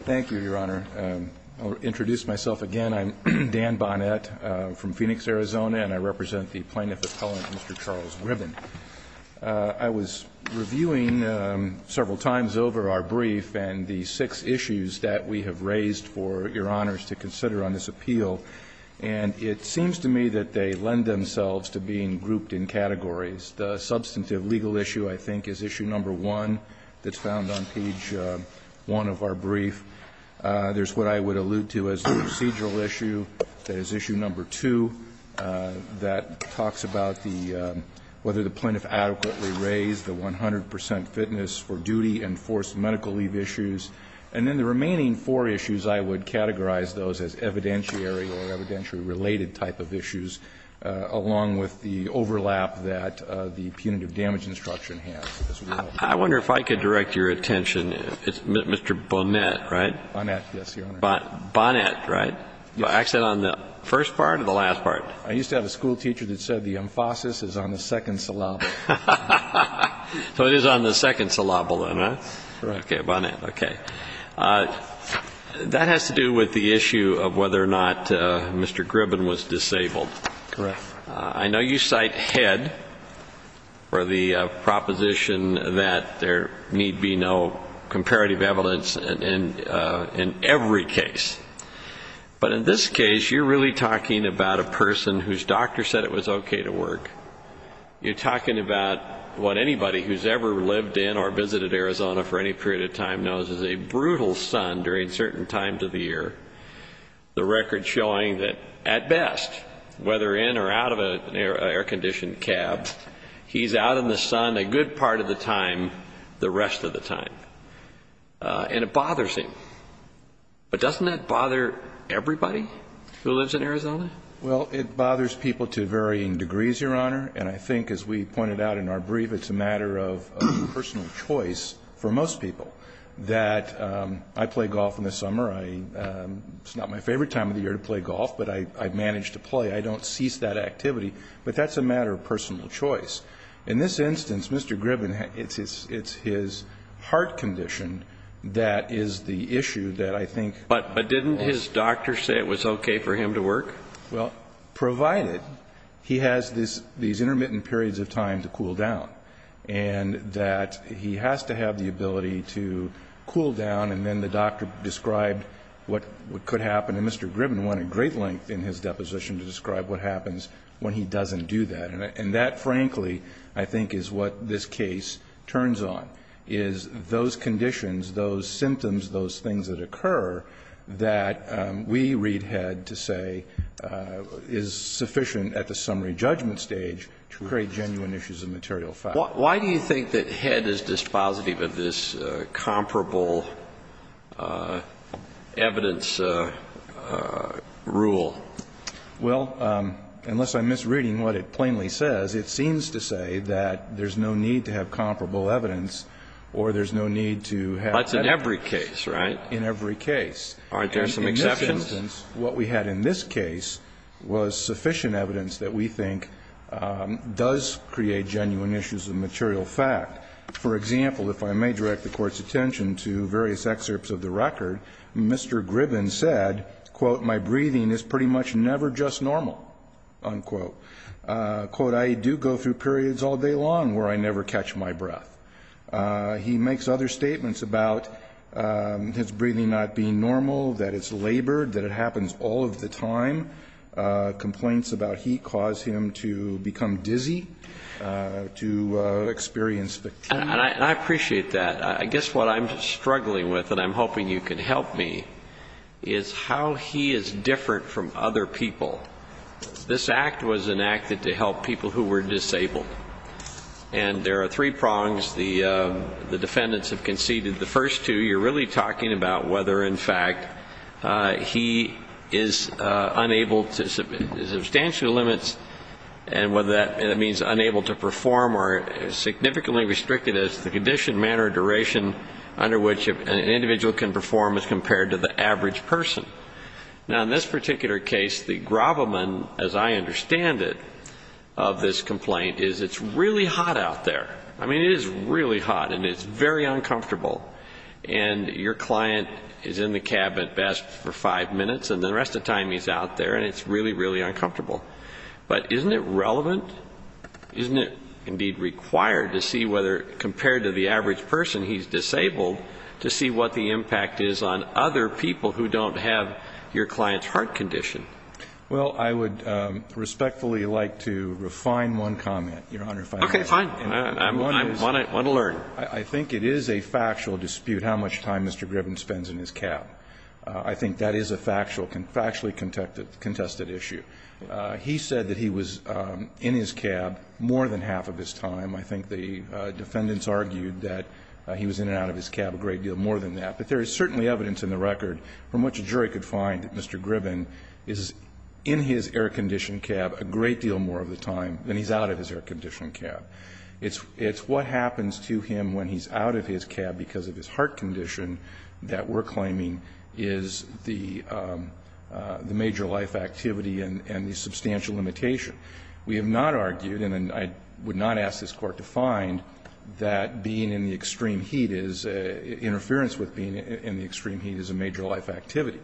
Thank you, Your Honor. I'll introduce myself again. I'm Dan Bonnett from Phoenix, Arizona, and I represent the Plaintiff Appellant, Mr. Charles Gribben. I was reviewing several times over our brief and the six issues that we have raised for Your Honors to consider on this appeal. And it seems to me that they lend themselves to being grouped in categories. The substantive legal issue, I think, is issue number one that's found on page one of our brief. There's what I would allude to as the procedural issue. That is issue number two that talks about whether the plaintiff adequately raised the 100 percent fitness for duty and forced medical leave issues. And then the remaining four issues, I would categorize those as evidentiary or evidentiary-related type of issues, along with the overlap that the punitive damage instruction has as well. I wonder if I could direct your attention. It's Mr. Bonnett, right? Bonnett, yes, Your Honor. Bonnett, right? Yes. Is that on the first part or the last part? I used to have a schoolteacher that said the emphasis is on the second syllable. So it is on the second syllable then, huh? Correct. Okay, Bonnett, okay. That has to do with the issue of whether or not Mr. Gribben was disabled. Correct. I know you cite Head for the proposition that there need be no comparative evidence in every case. But in this case, you're really talking about a person whose doctor said it was okay to work. You're talking about what anybody who's ever lived in or visited Arizona for any period of time knows is a brutal sun during certain times of the year, the record showing that, at best, whether in or out of an air-conditioned cab, he's out in the sun a good part of the time the rest of the time. And it bothers him. But doesn't that bother everybody who lives in Arizona? Well, it bothers people to varying degrees, Your Honor. And I think, as we pointed out in our brief, it's a matter of personal choice for most people. That I play golf in the summer. It's not my favorite time of the year to play golf, but I manage to play. I don't cease that activity. But that's a matter of personal choice. In this instance, Mr. Gribben, it's his heart condition that is the issue that I think... Well, provided he has these intermittent periods of time to cool down, and that he has to have the ability to cool down, and then the doctor described what could happen. And Mr. Gribben went at great length in his deposition to describe what happens when he doesn't do that. And that, frankly, I think is what this case turns on, is those conditions, those symptoms, those things that occur, that we read Head to say is sufficient at the summary judgment stage to create genuine issues of material fact. Why do you think that Head is dispositive of this comparable evidence rule? Well, unless I'm misreading what it plainly says, it seems to say that there's no need to have comparable evidence or there's no need to have... In this case, right? In every case. Aren't there some exceptions? In this instance, what we had in this case was sufficient evidence that we think does create genuine issues of material fact. For example, if I may direct the Court's attention to various excerpts of the record, Mr. Gribben said, quote, My breathing is pretty much never just normal, unquote. Quote, I do go through periods all day long where I never catch my breath. He makes other statements about his breathing not being normal, that it's labored, that it happens all of the time. Complaints about heat cause him to become dizzy, to experience... And I appreciate that. I guess what I'm struggling with, and I'm hoping you can help me, is how he is different from other people. This Act was enacted to help people who were disabled. And there are three prongs the defendants have conceded. The first two, you're really talking about whether, in fact, he is unable to... There's substantial limits. And whether that means unable to perform or significantly restricted as the condition, manner, or duration under which an individual can perform as compared to the average person. Now, in this particular case, the gravamen, as I understand it, of this complaint is it's really hot out there. I mean, it is really hot, and it's very uncomfortable. And your client is in the cab at best for five minutes, and the rest of the time he's out there, and it's really, really uncomfortable. But isn't it relevant? Isn't it, indeed, required to see whether, compared to the average person, he's disabled, to see what the impact is on other people who don't have your client's heart condition? Well, I would respectfully like to refine one comment, Your Honor, if I may. Okay, fine. I want to learn. I think it is a factual dispute how much time Mr. Gribben spends in his cab. I think that is a factual, factually contested issue. He said that he was in his cab more than half of his time. I think the defendants argued that he was in and out of his cab a great deal more than that. But there is certainly evidence in the record from which a jury could find that Mr. Gribben is in his air-conditioned cab a great deal more of the time than he's out of his air-conditioned cab. It's what happens to him when he's out of his cab because of his heart condition that we're claiming is the major life activity and the substantial limitation. We have not argued, and I would not ask this Court to find, that being in the extreme heat is, interference with being in the extreme heat is a major life activity.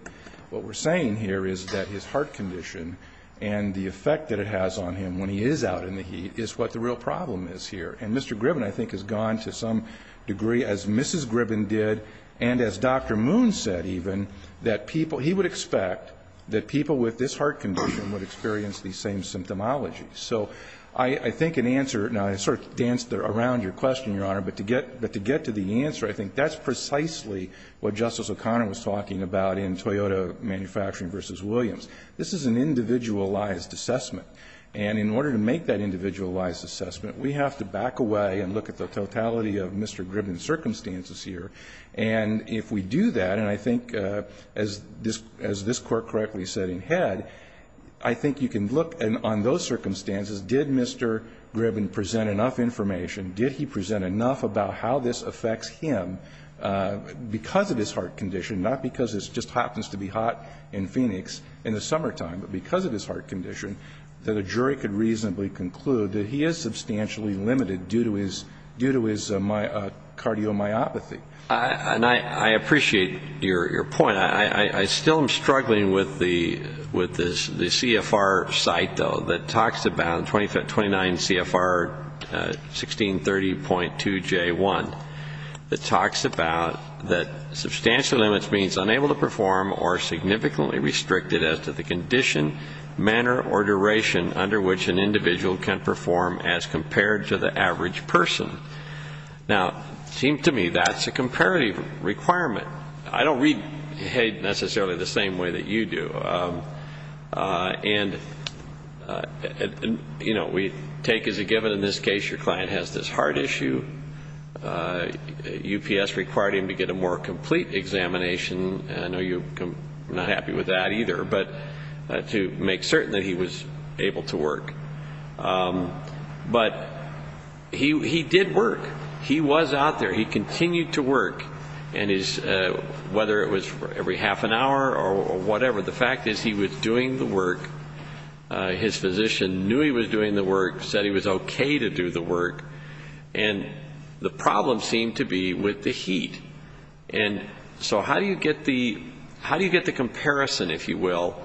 What we're saying here is that his heart condition and the effect that it has on him when he is out in the heat is what the real problem is here. And Mr. Gribben, I think, has gone to some degree, as Mrs. Gribben did, and as Dr. Moon said even, that people, he would expect that people with this heart condition would experience the same symptomology. So I think an answer, and I sort of danced around your question, Your Honor, but to get to the answer, I think that's precisely what Justice O'Connor was talking about in Toyota Manufacturing v. Williams. This is an individualized assessment. And in order to make that individualized assessment, we have to back away and look at the totality of Mr. Gribben's circumstances here. And if we do that, and I think as this Court correctly said in Head, I think you can look on those circumstances, did Mr. Gribben present enough information, did he present enough about how this affects him because of his heart condition, not because it just happens to be hot in Phoenix in the summertime, but because of his heart condition, that a jury could reasonably conclude that he is substantially limited due to his cardiomyopathy. And I appreciate your point. I still am struggling with the CFR site, though, that talks about 29 CFR 1630.2J1 that talks about that substantial limits means unable to perform or significantly restricted as to the condition, manner, or duration under which an individual can perform as compared to the average person. Now, it seems to me that's a comparative requirement. I don't read Head necessarily the same way that you do. And we take as a given in this case your client has this heart issue. UPS required him to get a more complete examination. I know you're not happy with that either, but to make certain that he was able to work. But he did work. He was out there. He continued to work, whether it was every half an hour or whatever. The fact is he was doing the work. His physician knew he was doing the work, said he was okay to do the work. And the problem seemed to be with the heat. And so how do you get the comparison, if you will,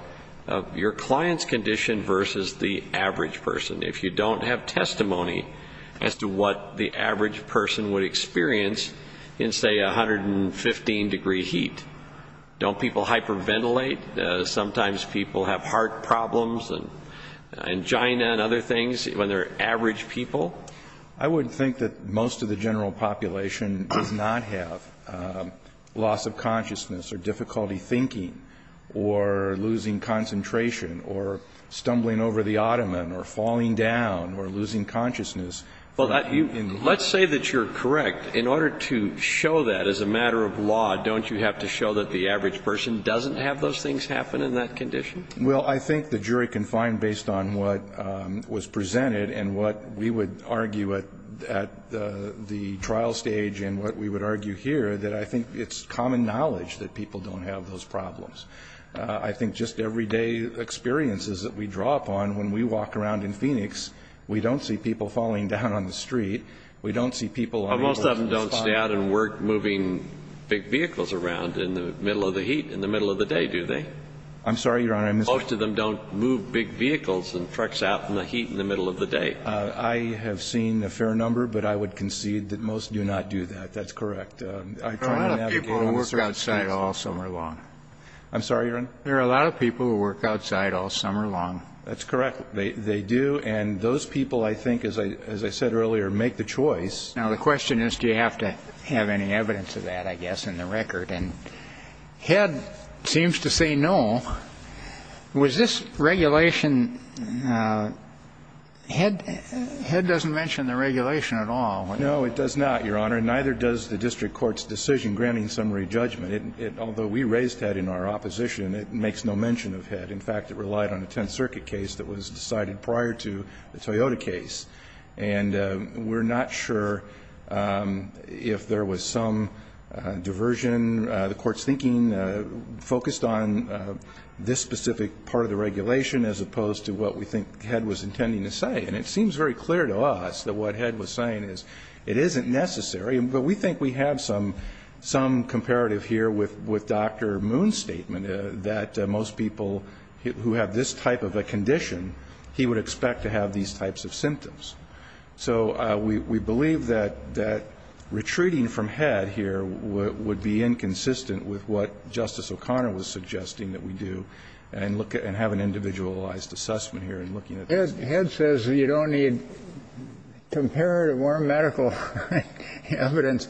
of your client's condition versus the average person if you don't have testimony as to what the average person would experience in, say, 115-degree heat? Don't people hyperventilate? Sometimes people have heart problems and angina and other things when they're average people. I would think that most of the general population does not have loss of consciousness or difficulty thinking or losing concentration or stumbling over the ottoman or falling down or losing consciousness. Well, let's say that you're correct. In order to show that as a matter of law, don't you have to show that the average person doesn't have those things happen in that condition? Well, I think the jury can find, based on what was presented and what we would argue at the trial stage and what we would argue here, that I think it's common knowledge that people don't have those problems. I think just everyday experiences that we draw upon, when we walk around in Phoenix, we don't see people falling down on the street. We don't see people on the road. Well, most of them don't stay out and work moving big vehicles around in the middle of the heat, in the middle of the day, do they? I'm sorry, Your Honor. Most of them don't move big vehicles and trucks out in the heat in the middle of the day. I have seen a fair number, but I would concede that most do not do that. That's correct. There are a lot of people who work outside all summer long. I'm sorry, Your Honor. There are a lot of people who work outside all summer long. That's correct. They do. And those people, I think, as I said earlier, make the choice. Now, the question is, do you have to have any evidence of that, I guess, in the record? And Head seems to say no. Was this regulation ñ Head doesn't mention the regulation at all. No, it does not, Your Honor. Neither does the district court's decision granting summary judgment. Although we raised Head in our opposition, it makes no mention of Head. In fact, it relied on a Tenth Circuit case that was decided prior to the Toyota case. And we're not sure if there was some diversion, the Court's thinking focused on this specific part of the regulation as opposed to what we think Head was intending to say. And it seems very clear to us that what Head was saying is it isn't necessary. But we think we have some comparative here with Dr. Moon's statement, that most people who have this type of a condition, he would expect to have these types of symptoms. So we believe that retreating from Head here would be inconsistent with what Justice O'Connor was suggesting that we do and have an individualized assessment here in looking at this. So Head says you don't need comparative or medical evidence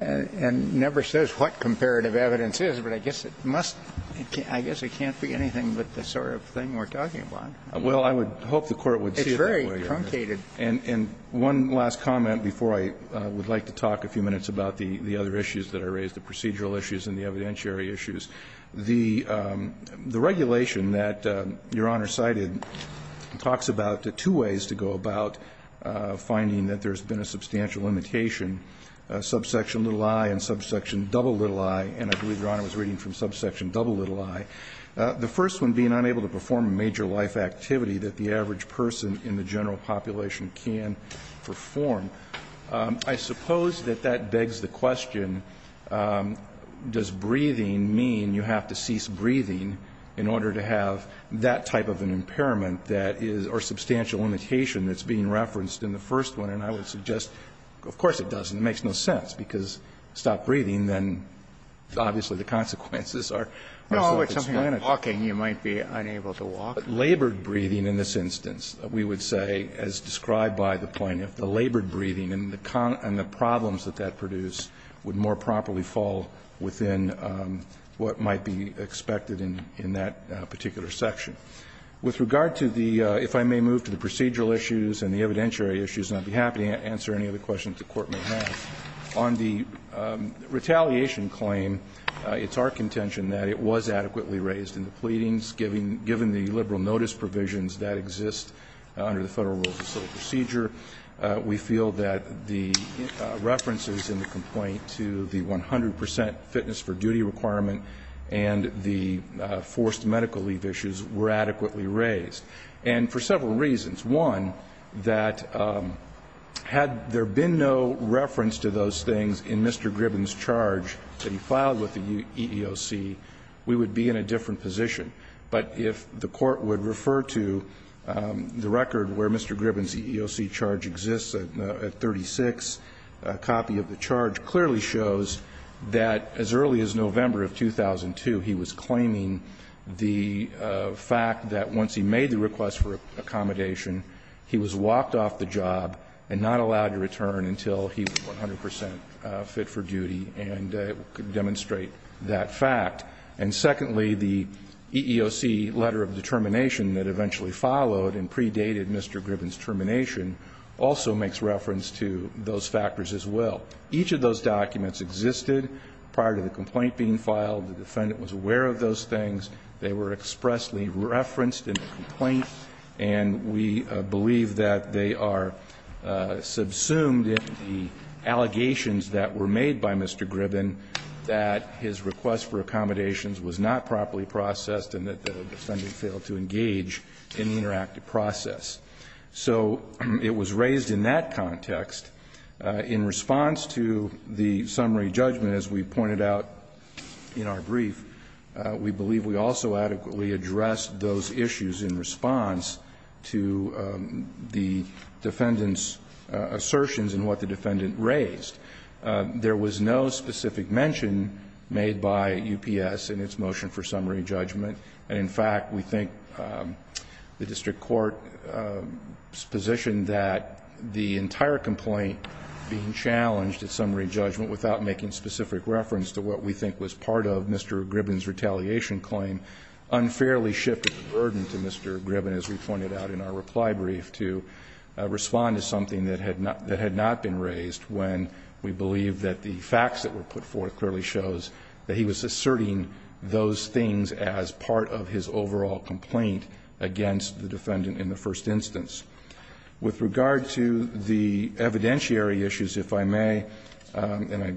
and never says what comparative evidence is, but I guess it must ñ I guess it can't be anything but the sort of thing we're talking about. Well, I would hope the Court would see it that way. It's very truncated. And one last comment before I would like to talk a few minutes about the other issues that are raised, the procedural issues and the evidentiary issues. The regulation that Your Honor cited talks about two ways to go about finding that there's been a substantial limitation, subsection little i and subsection double little i. And I believe Your Honor was reading from subsection double little i. The first one, being unable to perform a major life activity that the average person in the general population can perform. I suppose that that begs the question, does breathing mean you have to cease breathing in order to have that type of an impairment that is ñ or substantial limitation that's being referenced in the first one? And I would suggest, of course it doesn't. It makes no sense, because stop breathing, then obviously the consequences are self-explanatory. No, it's something like walking. You might be unable to walk. But labored breathing in this instance, we would say, as described by the plaintiff, the labored breathing and the problems that that produced would more properly fall within what might be expected in that particular section. With regard to the ñ if I may move to the procedural issues and the evidentiary issues, and I'd be happy to answer any other questions the Court may have. On the retaliation claim, it's our contention that it was adequately raised in the pleadings, given the liberal notice provisions that exist under the Federal Rule of Law, we feel that the references in the complaint to the 100 percent fitness for duty requirement and the forced medical leave issues were adequately raised. And for several reasons. One, that had there been no reference to those things in Mr. Gribben's charge that he filed with the EEOC, we would be in a different position. But if the Court would refer to the record where Mr. Gribben's EEOC charge exists at 36, a copy of the charge clearly shows that as early as November of 2002, he was claiming the fact that once he made the request for accommodation, he was walked off the job and not allowed to return until he was 100 percent fit for duty and could demonstrate that fact. And secondly, the EEOC letter of determination that eventually followed and predated Mr. Gribben's termination also makes reference to those factors as well. Each of those documents existed prior to the complaint being filed. The defendant was aware of those things. They were expressly referenced in the complaint. And we believe that they are subsumed in the allegations that were made by Mr. Gribben that his request for accommodations was not properly processed and that the defendant failed to engage in the interactive process. So it was raised in that context. In response to the summary judgment, as we pointed out in our brief, we believe we also adequately addressed those issues in response to the defendant's assertions in what the defendant raised. There was no specific mention made by UPS in its motion for summary judgment. And in fact, we think the district court's position that the entire complaint being challenged at summary judgment without making specific reference to what we think was part of Mr. Gribben's retaliation claim unfairly shifted the burden to Mr. Gribben, as we pointed out in our reply brief, to respond to something that had not been raised when we believe that the facts that were put forth clearly shows that he was asserting those things as part of his overall complaint against the defendant in the first instance. With regard to the evidentiary issues, if I may, and I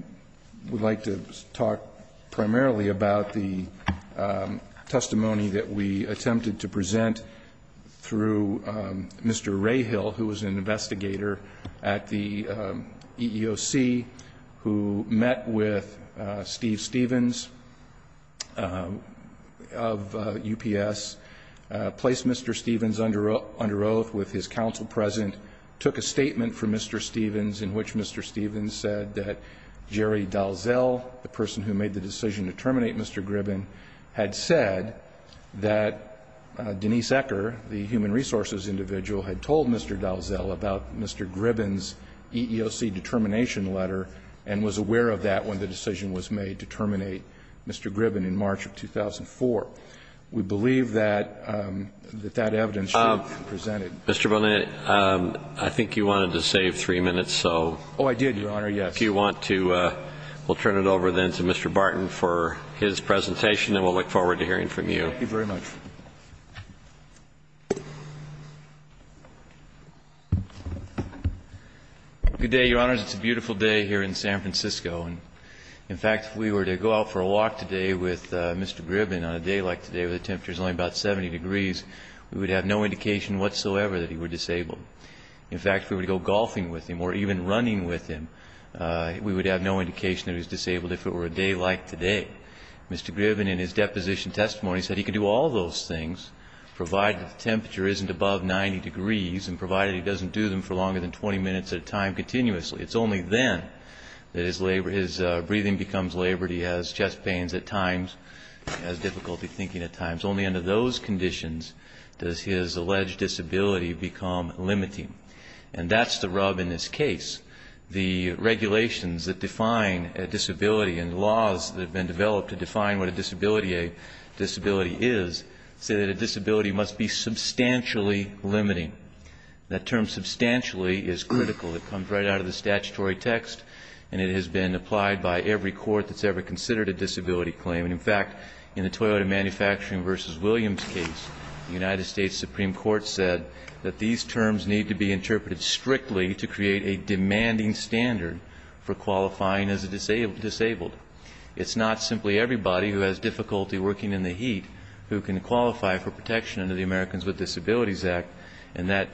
would like to talk primarily about the testimony that we attempted to present through Mr. Rahill, who was an investigator at the EEOC who met with Steve Stevens of UPS, placed Mr. Stevens under oath with his counsel present, took a statement from Mr. Stevens in which Mr. Stevens said that Jerry Dalzell, the person who made the decision to terminate Mr. Gribben, had said that Denise Ecker, the human resources individual, had told Mr. Dalzell about Mr. Gribben's EEOC determination letter and was aware of that when the decision was made to terminate Mr. Gribben in March of 2004. We believe that that evidence should be presented. Mr. Bonet, I think you wanted to save three minutes, so. Oh, I did, Your Honor, yes. If you want to, we'll turn it over then to Mr. Barton for his presentation, and we'll look forward to hearing from you. Thank you very much. Good day, Your Honors. It's a beautiful day here in San Francisco. In fact, if we were to go out for a walk today with Mr. Gribben on a day like today where the temperature is only about 70 degrees, we would have no indication whatsoever that he were disabled. In fact, if we were to go golfing with him or even running with him, we would have no indication that he was disabled if it were a day like today. Mr. Gribben in his deposition testimony said he could do all those things, provided the temperature isn't above 90 degrees and provided he doesn't do them for longer than 20 minutes at a time continuously. It's only then that his breathing becomes labored, he has chest pains at times, he has difficulty thinking at times. Only under those conditions does his alleged disability become limiting. And that's the rub in this case. The regulations that define a disability and laws that have been developed to define what a disability is say that a disability must be substantially limiting. That term substantially is critical. It comes right out of the statutory text and it has been applied by every court that's ever considered a disability claim. In fact, in the Toyota Manufacturing v. Williams case, the United States Supreme Court said that these terms need to be interpreted strictly to create a demanding standard for qualifying as a disabled. It's not simply everybody who has difficulty working in the heat who can qualify for protection under the Americans with Disabilities Act, and that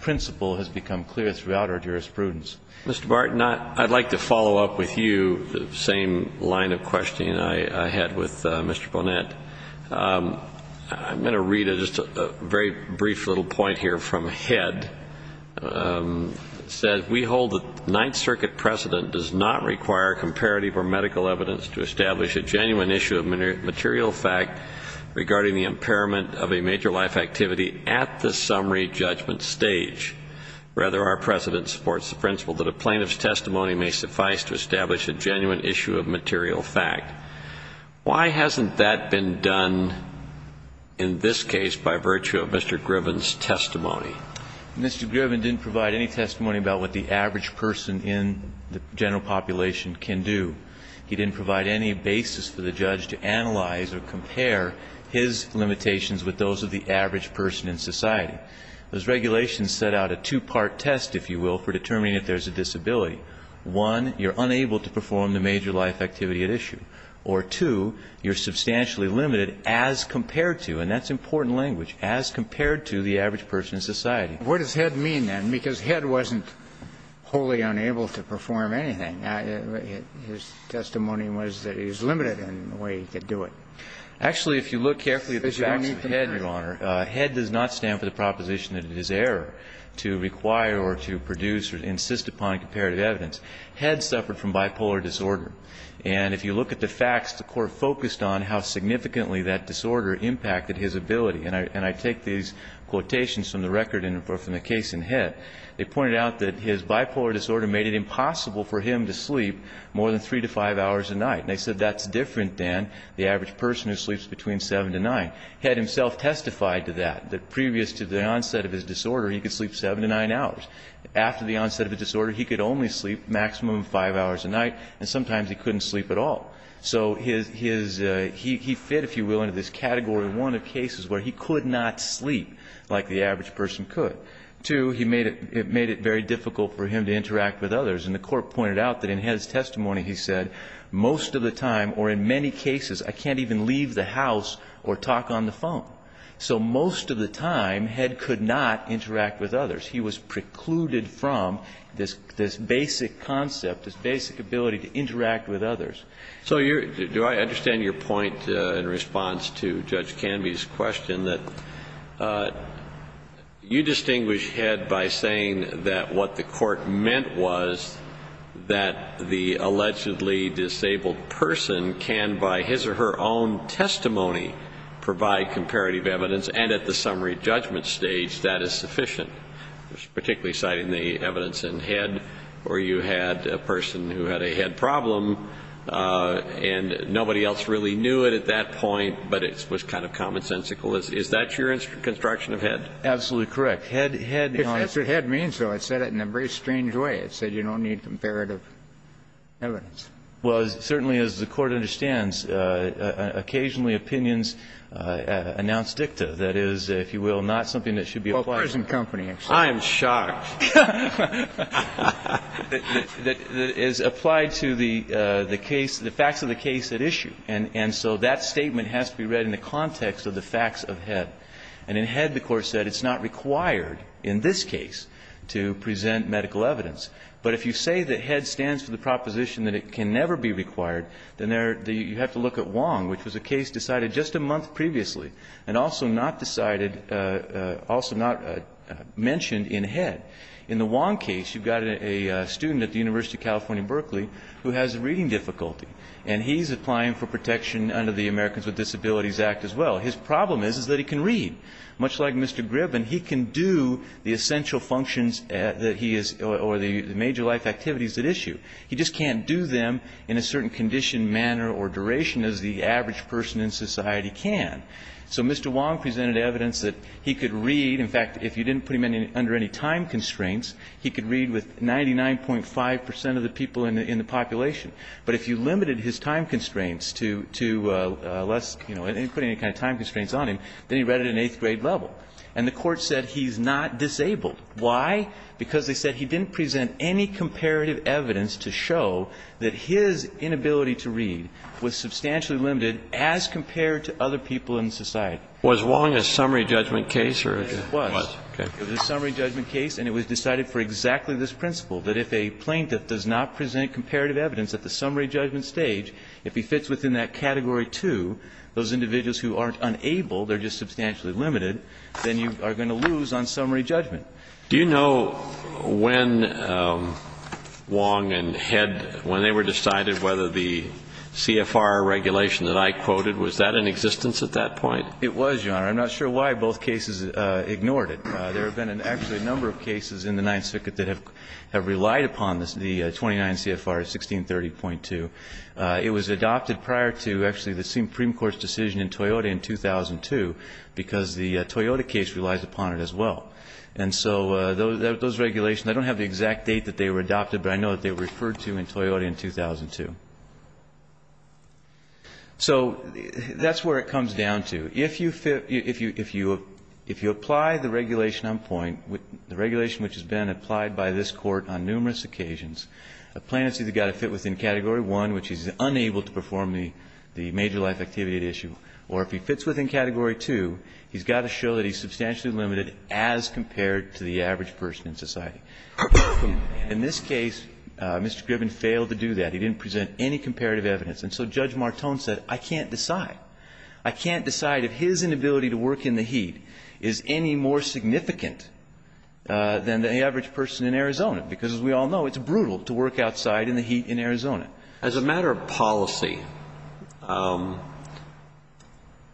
principle has become clear throughout our jurisprudence. Mr. Barton, I'd like to follow up with you the same line of questioning I had with Mr. Bonet. I'm going to read just a very brief little point here from Head. It says, We hold that the Ninth Circuit precedent does not require comparative or medical evidence to establish a genuine issue of material fact regarding the impairment of a major life activity at the summary judgment stage. Rather, our precedent supports the principle that a plaintiff's testimony may suffice to establish a genuine issue of material fact. Why hasn't that been done in this case by virtue of Mr. Griffin's testimony? Mr. Griffin didn't provide any testimony about what the average person in the general population can do. He didn't provide any basis for the judge to analyze or compare his limitations with those of the average person in society. Those regulations set out a two-part test, if you will, for determining if there's a disability. One, you're unable to perform the major life activity at issue. Or two, you're substantially limited as compared to, and that's important language, as compared to the average person in society. What does Head mean then? Because Head wasn't wholly unable to perform anything. His testimony was that he was limited in the way he could do it. Actually, if you look carefully at the facts of Head, Your Honor, Head does not stand for the proposition that it is error to require or to produce or insist upon comparative evidence. Head suffered from bipolar disorder. And if you look at the facts, the court focused on how significantly that disorder impacted his ability. And I take these quotations from the record and from the case in Head. They pointed out that his bipolar disorder made it impossible for him to sleep more than three to five hours a night. And they said that's different than the average person who sleeps between seven to nine. Head himself testified to that, that previous to the onset of his disorder, he could sleep seven to nine hours. After the onset of the disorder, he could only sleep a maximum of five hours a night. And sometimes he couldn't sleep at all. So he fit, if you will, into this Category 1 of cases where he could not sleep like the average person could. Two, it made it very difficult for him to interact with others. And the court pointed out that in Head's testimony he said, most of the time or in many cases I can't even leave the house or talk on the phone. So most of the time Head could not interact with others. He was precluded from this basic concept, this basic ability to interact with others. So do I understand your point in response to Judge Canby's question, that you distinguish Head by saying that what the court meant was that the allegedly disabled person can, by his or her own testimony, provide comparative evidence and at the summary judgment stage that is sufficient. Particularly citing the evidence in Head, where you had a person who had a Head problem and nobody else really knew it at that point, but it was kind of commonsensical. Is that your construction of Head? Absolutely correct. Head, you know, that's what Head means, though. It said it in a very strange way. It said you don't need comparative evidence. Well, certainly as the court understands, occasionally opinions announce dicta. That is, if you will, not something that should be applied. I'm shocked. That is applied to the case, the facts of the case at issue. And so that statement has to be read in the context of the facts of Head. And in Head the court said it's not required in this case to present medical evidence. But if you say that Head stands for the proposition that it can never be required, then you have to look at Wong, which was a case decided just a month previously and also not decided, also not mentioned in Head. In the Wong case, you've got a student at the University of California, Berkeley, who has a reading difficulty, and he's applying for protection under the Americans with Disabilities Act as well. His problem is that he can read. Much like Mr. Gribben, he can do the essential functions that he is or the major life activities at issue. He just can't do them in a certain condition, manner, or duration as the average person in society can. So Mr. Wong presented evidence that he could read. In fact, if you didn't put him under any time constraints, he could read with 99.5 percent of the people in the population. But if you limited his time constraints to less, you know, and didn't put any kind of time constraints on him, then he read at an eighth grade level. And the court said he's not disabled. Why? Because they said he didn't present any comparative evidence to show that his inability to read was substantially limited as compared to other people in society. Was Wong a summary judgment case? It was. Okay. It was a summary judgment case, and it was decided for exactly this principle, that if a plaintiff does not present comparative evidence at the summary judgment stage, if he fits within that Category 2, those individuals who aren't unable, they're just substantially limited, then you are going to lose on summary judgment. Do you know when Wong and Head, when they were decided whether the CFR regulation that I quoted, was that in existence at that point? It was, Your Honor. I'm not sure why both cases ignored it. There have been actually a number of cases in the Ninth Circuit that have relied upon the 29 CFR, 1630.2. It was adopted prior to actually the Supreme Court's decision in Toyota in 2002 because the Toyota case relies upon it as well. And so those regulations, I don't have the exact date that they were adopted, but I know that they were referred to in Toyota in 2002. So that's where it comes down to. If you fit, if you apply the regulation on point, the regulation which has been applied by this Court on numerous occasions, a plaintiff's either got to fit within Category 1, which is unable to perform the major life activity at issue, or if he fits within Category 2, he's got to show that he's substantially limited as compared to the average person in society. In this case, Mr. Gribbon failed to do that. He didn't present any comparative evidence. And so Judge Martone said, I can't decide. I can't decide if his inability to work in the heat is any more significant than the average person in Arizona, because as we all know, it's brutal to work outside in the heat in Arizona. As a matter of policy,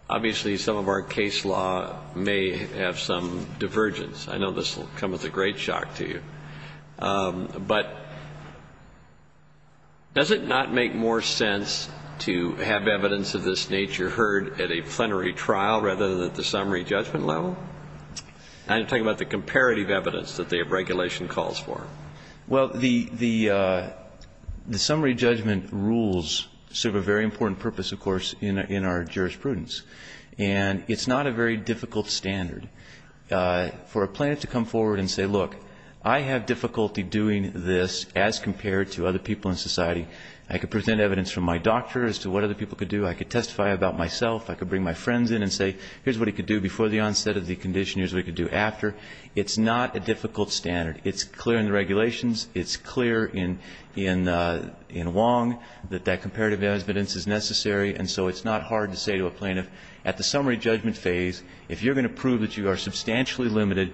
obviously some of our case law may have some divergence. I know this will come as a great shock to you. But does it not make more sense to have evidence of this nature heard at a plenary trial rather than at the summary judgment level? I'm talking about the comparative evidence that the regulation calls for. Well, the summary judgment rules serve a very important purpose, of course, in our jurisprudence. And it's not a very difficult standard for a plaintiff to come forward and say, look, I have difficulty doing this as compared to other people in society. I could present evidence from my doctor as to what other people could do. I could testify about myself. I could bring my friends in and say, here's what he could do before the onset of the condition. Here's what he could do after. It's not a difficult standard. It's clear in the regulations. It's clear in Wong that that comparative evidence is necessary. And so it's not hard to say to a plaintiff at the summary judgment phase, if you're going to prove that you are substantially limited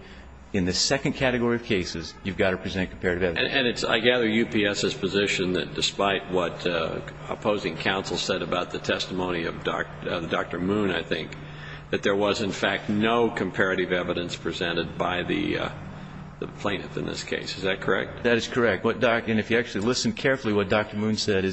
in the second category of cases, you've got to present comparative evidence. And I gather UPS's position that despite what opposing counsel said about the testimony of Dr. Moon, I think, that there was, in fact, no comparative evidence presented by the plaintiff in this case. Is that correct? That is correct. And if you actually listen carefully to what Dr. Moon said,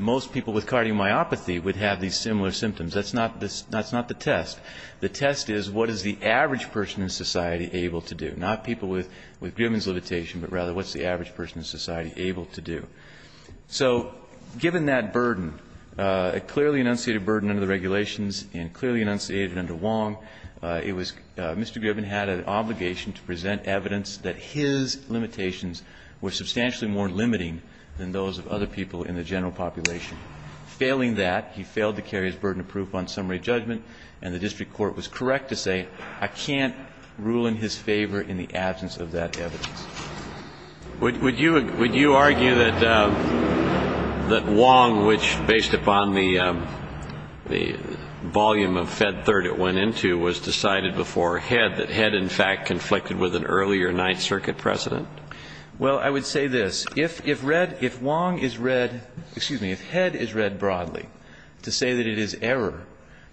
most people with cardiomyopathy would have these similar symptoms. That's not the test. The test is what is the average person in society able to do, not people with Grimman's limitation, but rather what's the average person in society able to do. So given that burden, a clearly enunciated burden under the regulations and clearly enunciated under Wong, it was Mr. Grimman had an obligation to present evidence that his limitations were substantially more limiting than those of other people in the general population. Failing that, he failed to carry his burden of proof on summary judgment, and the district court was correct to say, I can't rule in his favor in the absence of that evidence. Would you argue that Wong, which, based upon the volume of Fed Third it went into, was decided before Head, that Head, in fact, conflicted with an earlier Ninth Circuit precedent? Well, I would say this. If read, if Wong is read, excuse me, if Head is read broadly to say that it is error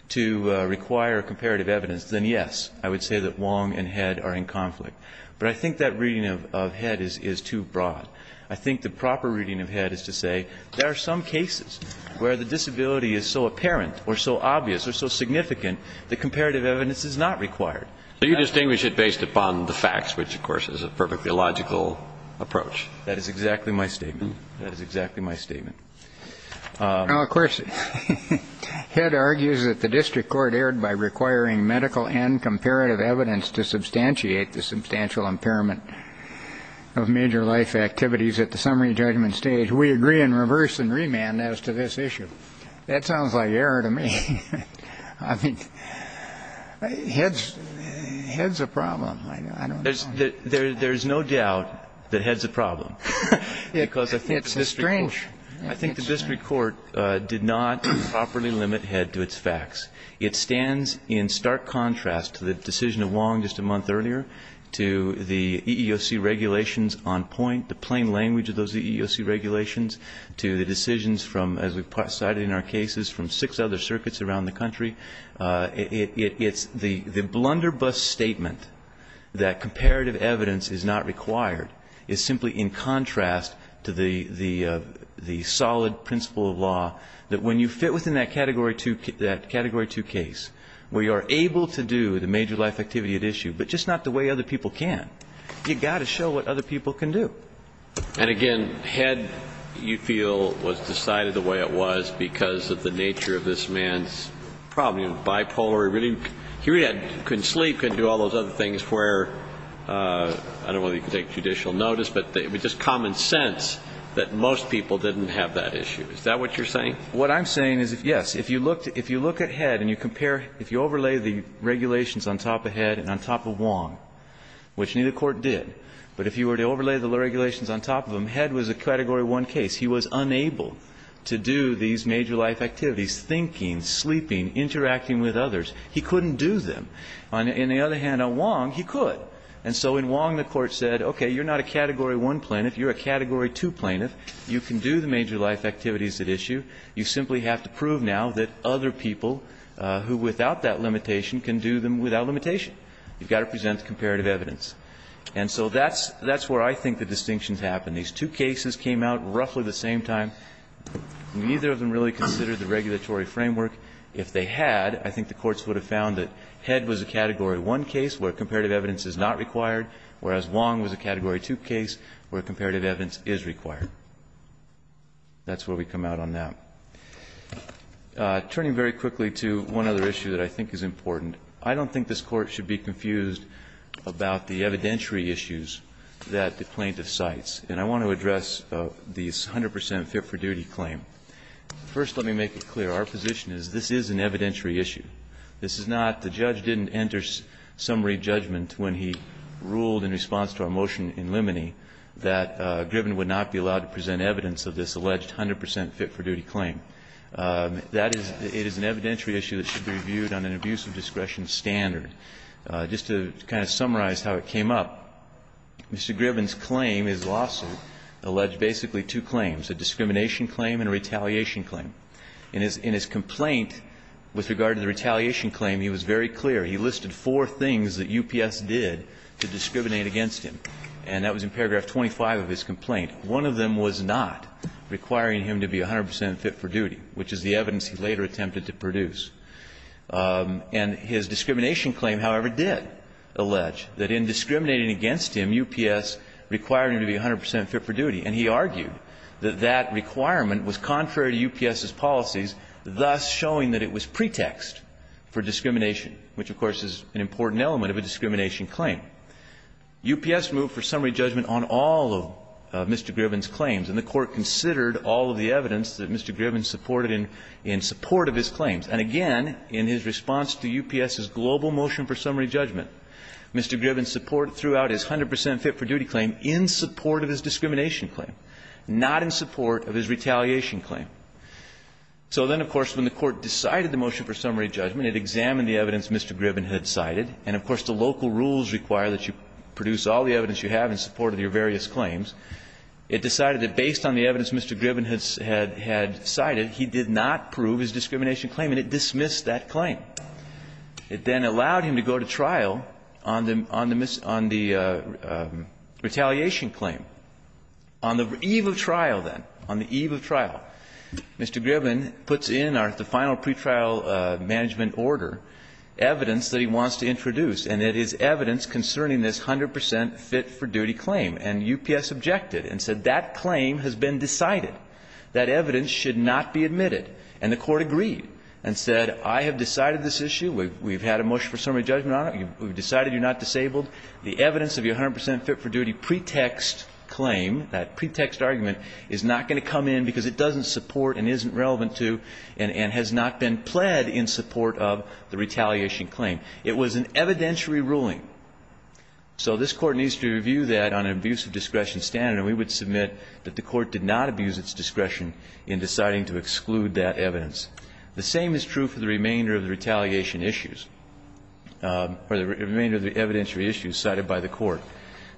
to require comparative evidence, then yes, I would say that Wong and Head are in conflict. But I think that reading of Head is too broad. I think the proper reading of Head is to say there are some cases where the disability is so apparent or so obvious or so significant that comparative evidence is not required. So you distinguish it based upon the facts, which, of course, is a perfectly logical approach. That is exactly my statement. That is exactly my statement. Now, of course, Head argues that the district court erred by requiring medical and medical evidence to substantiate the substantial impairment of major life activities at the summary judgment stage. We agree in reverse and remand as to this issue. That sounds like error to me. I mean, Head's a problem. I don't know. There's no doubt that Head's a problem. It's a strange. I think the district court did not properly limit Head to its facts. It stands in stark contrast to the decision of Wong just a month earlier, to the EEOC regulations on point, the plain language of those EEOC regulations, to the decisions from, as we've cited in our cases, from six other circuits around the country. It's the blunderbuss statement that comparative evidence is not required is simply in contrast to the solid principle of law that when you fit within that category two case, where you're able to do the major life activity at issue, but just not the way other people can, you've got to show what other people can do. And, again, Head, you feel, was decided the way it was because of the nature of this man's problem. He was bipolar. He really couldn't sleep, couldn't do all those other things where, I don't know whether he could take judicial notice, but it was just common sense that most people didn't have that issue. Is that what you're saying? What I'm saying is, yes, if you look at Head and you compare, if you overlay the regulations on top of Head and on top of Wong, which neither court did, but if you were to overlay the regulations on top of him, Head was a category one case. He was unable to do these major life activities, thinking, sleeping, interacting with others. He couldn't do them. On the other hand, on Wong, he could. And so in Wong, the Court said, okay, you're not a category one plaintiff. You're a category two plaintiff. You can do the major life activities at issue. You simply have to prove now that other people who, without that limitation, can do them without limitation. You've got to present the comparative evidence. And so that's where I think the distinctions happen. These two cases came out roughly the same time. Neither of them really considered the regulatory framework. If they had, I think the courts would have found that Head was a category one case where comparative evidence is not required, whereas Wong was a category two case where that's where we come out on that. Turning very quickly to one other issue that I think is important. I don't think this Court should be confused about the evidentiary issues that the plaintiff cites. And I want to address the 100 percent fit-for-duty claim. First, let me make it clear. Our position is this is an evidentiary issue. This is not the judge didn't enter summary judgment when he ruled in response to our motion in limine that Griffin would not be allowed to present evidence of this alleged 100 percent fit-for-duty claim. That is, it is an evidentiary issue that should be reviewed on an abuse of discretion standard. Just to kind of summarize how it came up. Mr. Griffin's claim, his lawsuit, alleged basically two claims, a discrimination claim and a retaliation claim. In his complaint, with regard to the retaliation claim, he was very clear. He listed four things that UPS did to discriminate against him. And that was in paragraph 25 of his complaint. One of them was not requiring him to be 100 percent fit-for-duty, which is the evidence he later attempted to produce. And his discrimination claim, however, did allege that in discriminating against him, UPS required him to be 100 percent fit-for-duty. And he argued that that requirement was contrary to UPS's policies, thus showing that it was pretext for discrimination, which, of course, is an important element of a discrimination claim. UPS moved for summary judgment on all of Mr. Griffin's claims. And the Court considered all of the evidence that Mr. Griffin supported in support of his claims. And again, in his response to UPS's global motion for summary judgment, Mr. Griffin supported throughout his 100 percent fit-for-duty claim in support of his discrimination claim, not in support of his retaliation claim. So then, of course, when the Court decided the motion for summary judgment, it examined the evidence Mr. Griffin had cited. And, of course, the local rules require that you produce all the evidence you have in support of your various claims. It decided that based on the evidence Mr. Griffin had cited, he did not prove his discrimination claim, and it dismissed that claim. It then allowed him to go to trial on the retaliation claim. On the eve of trial, then, on the eve of trial, Mr. Griffin puts in the final pretrial management order evidence that he wants to introduce, and it is evidence concerning this 100 percent fit-for-duty claim. And UPS objected and said that claim has been decided. That evidence should not be admitted. And the Court agreed and said, I have decided this issue. We've had a motion for summary judgment on it. We've decided you're not disabled. The evidence of your 100 percent fit-for-duty pretext claim, that pretext argument, is not going to come in because it doesn't support and isn't relevant to and has not been pled in support of the retaliation claim. It was an evidentiary ruling. So this Court needs to review that on an abuse of discretion standard, and we would submit that the Court did not abuse its discretion in deciding to exclude that evidence. The same is true for the remainder of the retaliation issues, or the remainder of the evidentiary issues cited by the Court.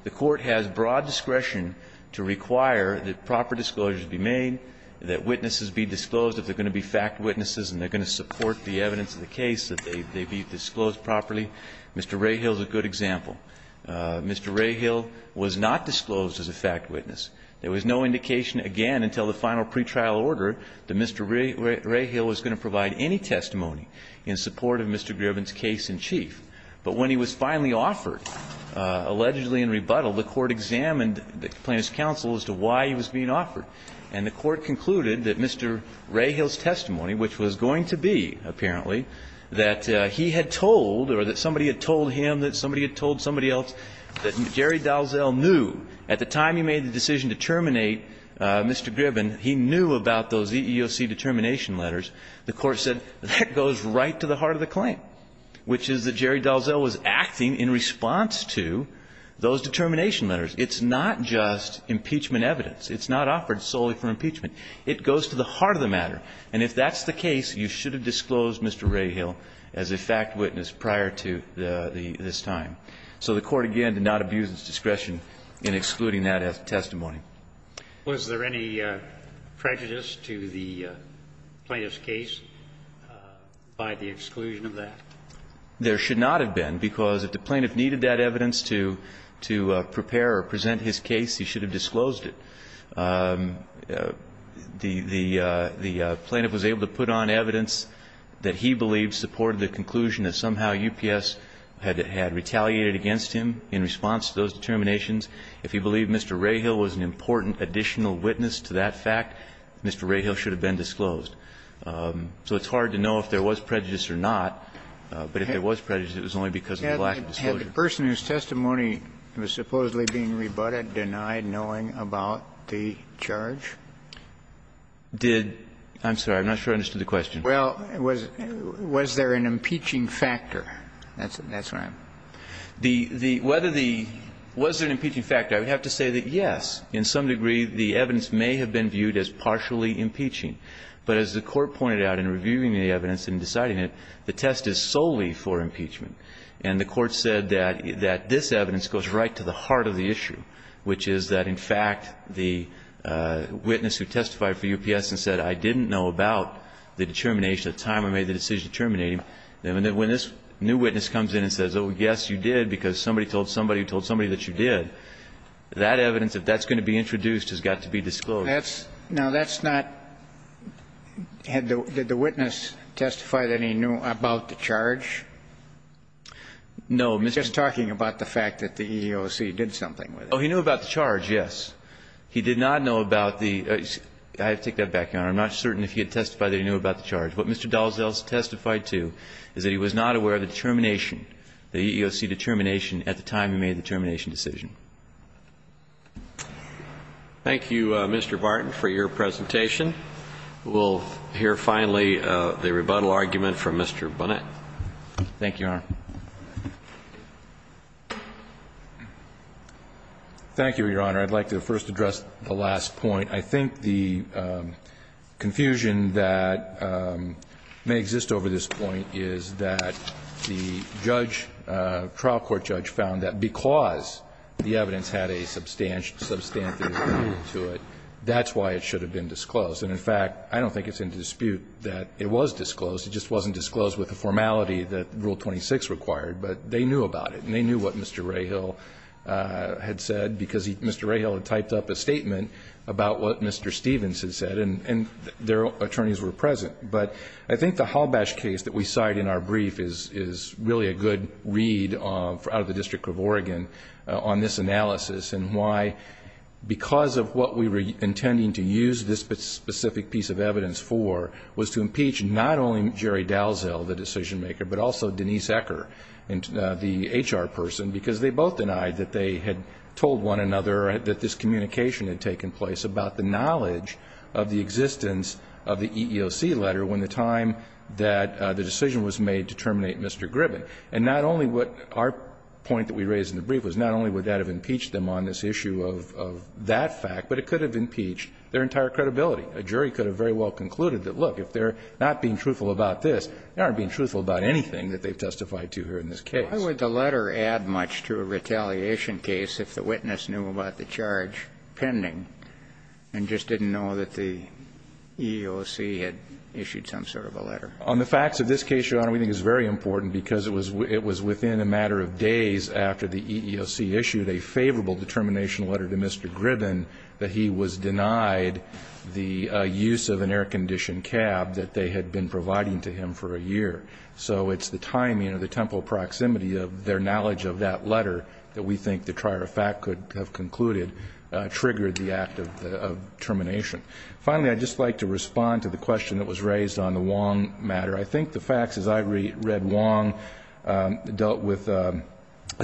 The Court has broad discretion to require that proper disclosures be made, that witnesses be disclosed if they're going to be fact witnesses and they're going to support the evidence of the case, that they be disclosed properly. Mr. Rahill is a good example. Mr. Rahill was not disclosed as a fact witness. There was no indication again until the final pretrial order that Mr. Rahill was going to provide any testimony in support of Mr. Gribben's case in chief. But when he was finally offered, allegedly in rebuttal, the Court examined the plaintiff's counsel as to why he was being offered. And the Court concluded that Mr. Rahill's testimony, which was going to be, apparently, that he had told or that somebody had told him, that somebody had told somebody else, that Jerry Dalzell knew. At the time he made the decision to terminate Mr. Gribben, he knew about those EEOC determination letters. The Court said that goes right to the heart of the claim, which is that Jerry Dalzell was acting in response to those determination letters. It's not just impeachment evidence. It's not offered solely for impeachment. It goes to the heart of the matter. And if that's the case, you should have disclosed Mr. Rahill as a fact witness prior to this time. So the Court, again, did not abuse its discretion in excluding that testimony. Was there any prejudice to the plaintiff's case by the exclusion of that? There should not have been, because if the plaintiff needed that evidence to prepare or present his case, he should have disclosed it. The plaintiff was able to put on evidence that he believed supported the conclusion that somehow UPS had retaliated against him in response to those determinations. If he believed Mr. Rahill was an important additional witness to that fact, Mr. Rahill should have been disclosed. So it's hard to know if there was prejudice or not. But if there was prejudice, it was only because of the lack of disclosure. Had the person whose testimony was supposedly being rebutted denied knowing about the charge? Did – I'm sorry. I'm not sure I understood the question. Well, was there an impeaching factor? That's what I'm – The – whether the – was there an impeaching factor, I would have to say that, yes, in some degree, the evidence may have been viewed as partially impeaching. But as the Court pointed out in reviewing the evidence and deciding it, the test is solely for impeachment. And the Court said that this evidence goes right to the heart of the issue, which is that, in fact, the witness who testified for UPS and said, I didn't know about the determination at the time I made the decision to terminate him, when this new And so the evidence that you did, because somebody told somebody who told somebody that you did, that evidence, if that's going to be introduced, has got to be disclosed. That's – now, that's not – had the – did the witness testify that he knew about the charge? No, Mr. – You're just talking about the fact that the EEOC did something with it. Oh, he knew about the charge, yes. He did not know about the – I have to take that back, Your Honor. I'm not certain if he had testified that he knew about the charge. What Mr. Dalzell has testified to is that he was not aware of the determination, the EEOC determination, at the time he made the termination decision. Thank you, Mr. Barton, for your presentation. We'll hear, finally, the rebuttal argument from Mr. Bunnett. Thank you, Your Honor. Thank you, Your Honor. I'd like to first address the last point. I think the confusion that may exist over this point is that the judge, trial court judge, found that because the evidence had a substantive value to it, that's why it should have been disclosed. And, in fact, I don't think it's in dispute that it was disclosed. It just wasn't disclosed with the formality that Rule 26 required. But they knew about it. And they knew what Mr. Rahill had said because Mr. Rahill had typed up a statement about what Mr. Stephens had said. And their attorneys were present. But I think the Halbash case that we cite in our brief is really a good read out of the District of Oregon on this analysis and why, because of what we were intending to use this specific piece of evidence for, was to impeach not only Jerry Dalzell, the decision-maker, but also Denise Ecker, the HR person, because they both denied that they had told one another that this communication had taken place about the knowledge of the existence of the EEOC letter when the time that the decision was made to terminate Mr. Gribben. And not only what our point that we raised in the brief was not only would that have impeached them on this issue of that fact, but it could have impeached their entire credibility. A jury could have very well concluded that, look, if they're not being truthful about this, they aren't being truthful about anything that they've testified to here in this case. Why would the letter add much to a retaliation case if the witness knew about the charge pending and just didn't know that the EEOC had issued some sort of a letter? On the facts of this case, Your Honor, we think it's very important because it was within a matter of days after the EEOC issued a favorable determination letter to Mr. Gribben that he was denied the use of an air-conditioned cab that they had been providing to him for a year. So it's the timing or the temporal proximity of their knowledge of that letter that we think the trier of fact could have concluded triggered the act of termination. Finally, I'd just like to respond to the question that was raised on the Wong matter. I think the facts, as I read Wong, dealt with a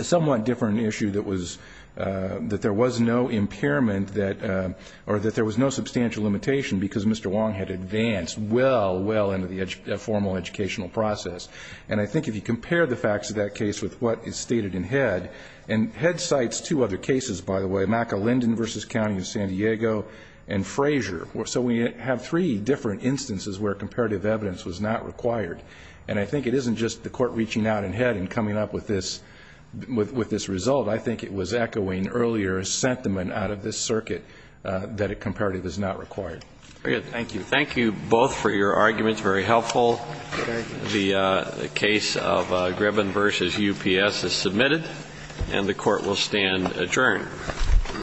somewhat different issue that was that there was no impairment that or that there was no substantial limitation because Mr. Wong had advanced well, well into the formal educational process. And I think if you compare the facts of that case with what is stated in Head, and Head cites two other cases, by the way, McAlinden v. County of San Diego and Frazier. So we have three different instances where comparative evidence was not required. And I think it isn't just the Court reaching out in Head and coming up with this result. I think it was echoing earlier a sentiment out of this circuit that a comparative is not required. Very good. Thank you. Thank you both for your arguments. Very helpful. The case of Gribben v. UPS is submitted, and the Court will stand adjourned.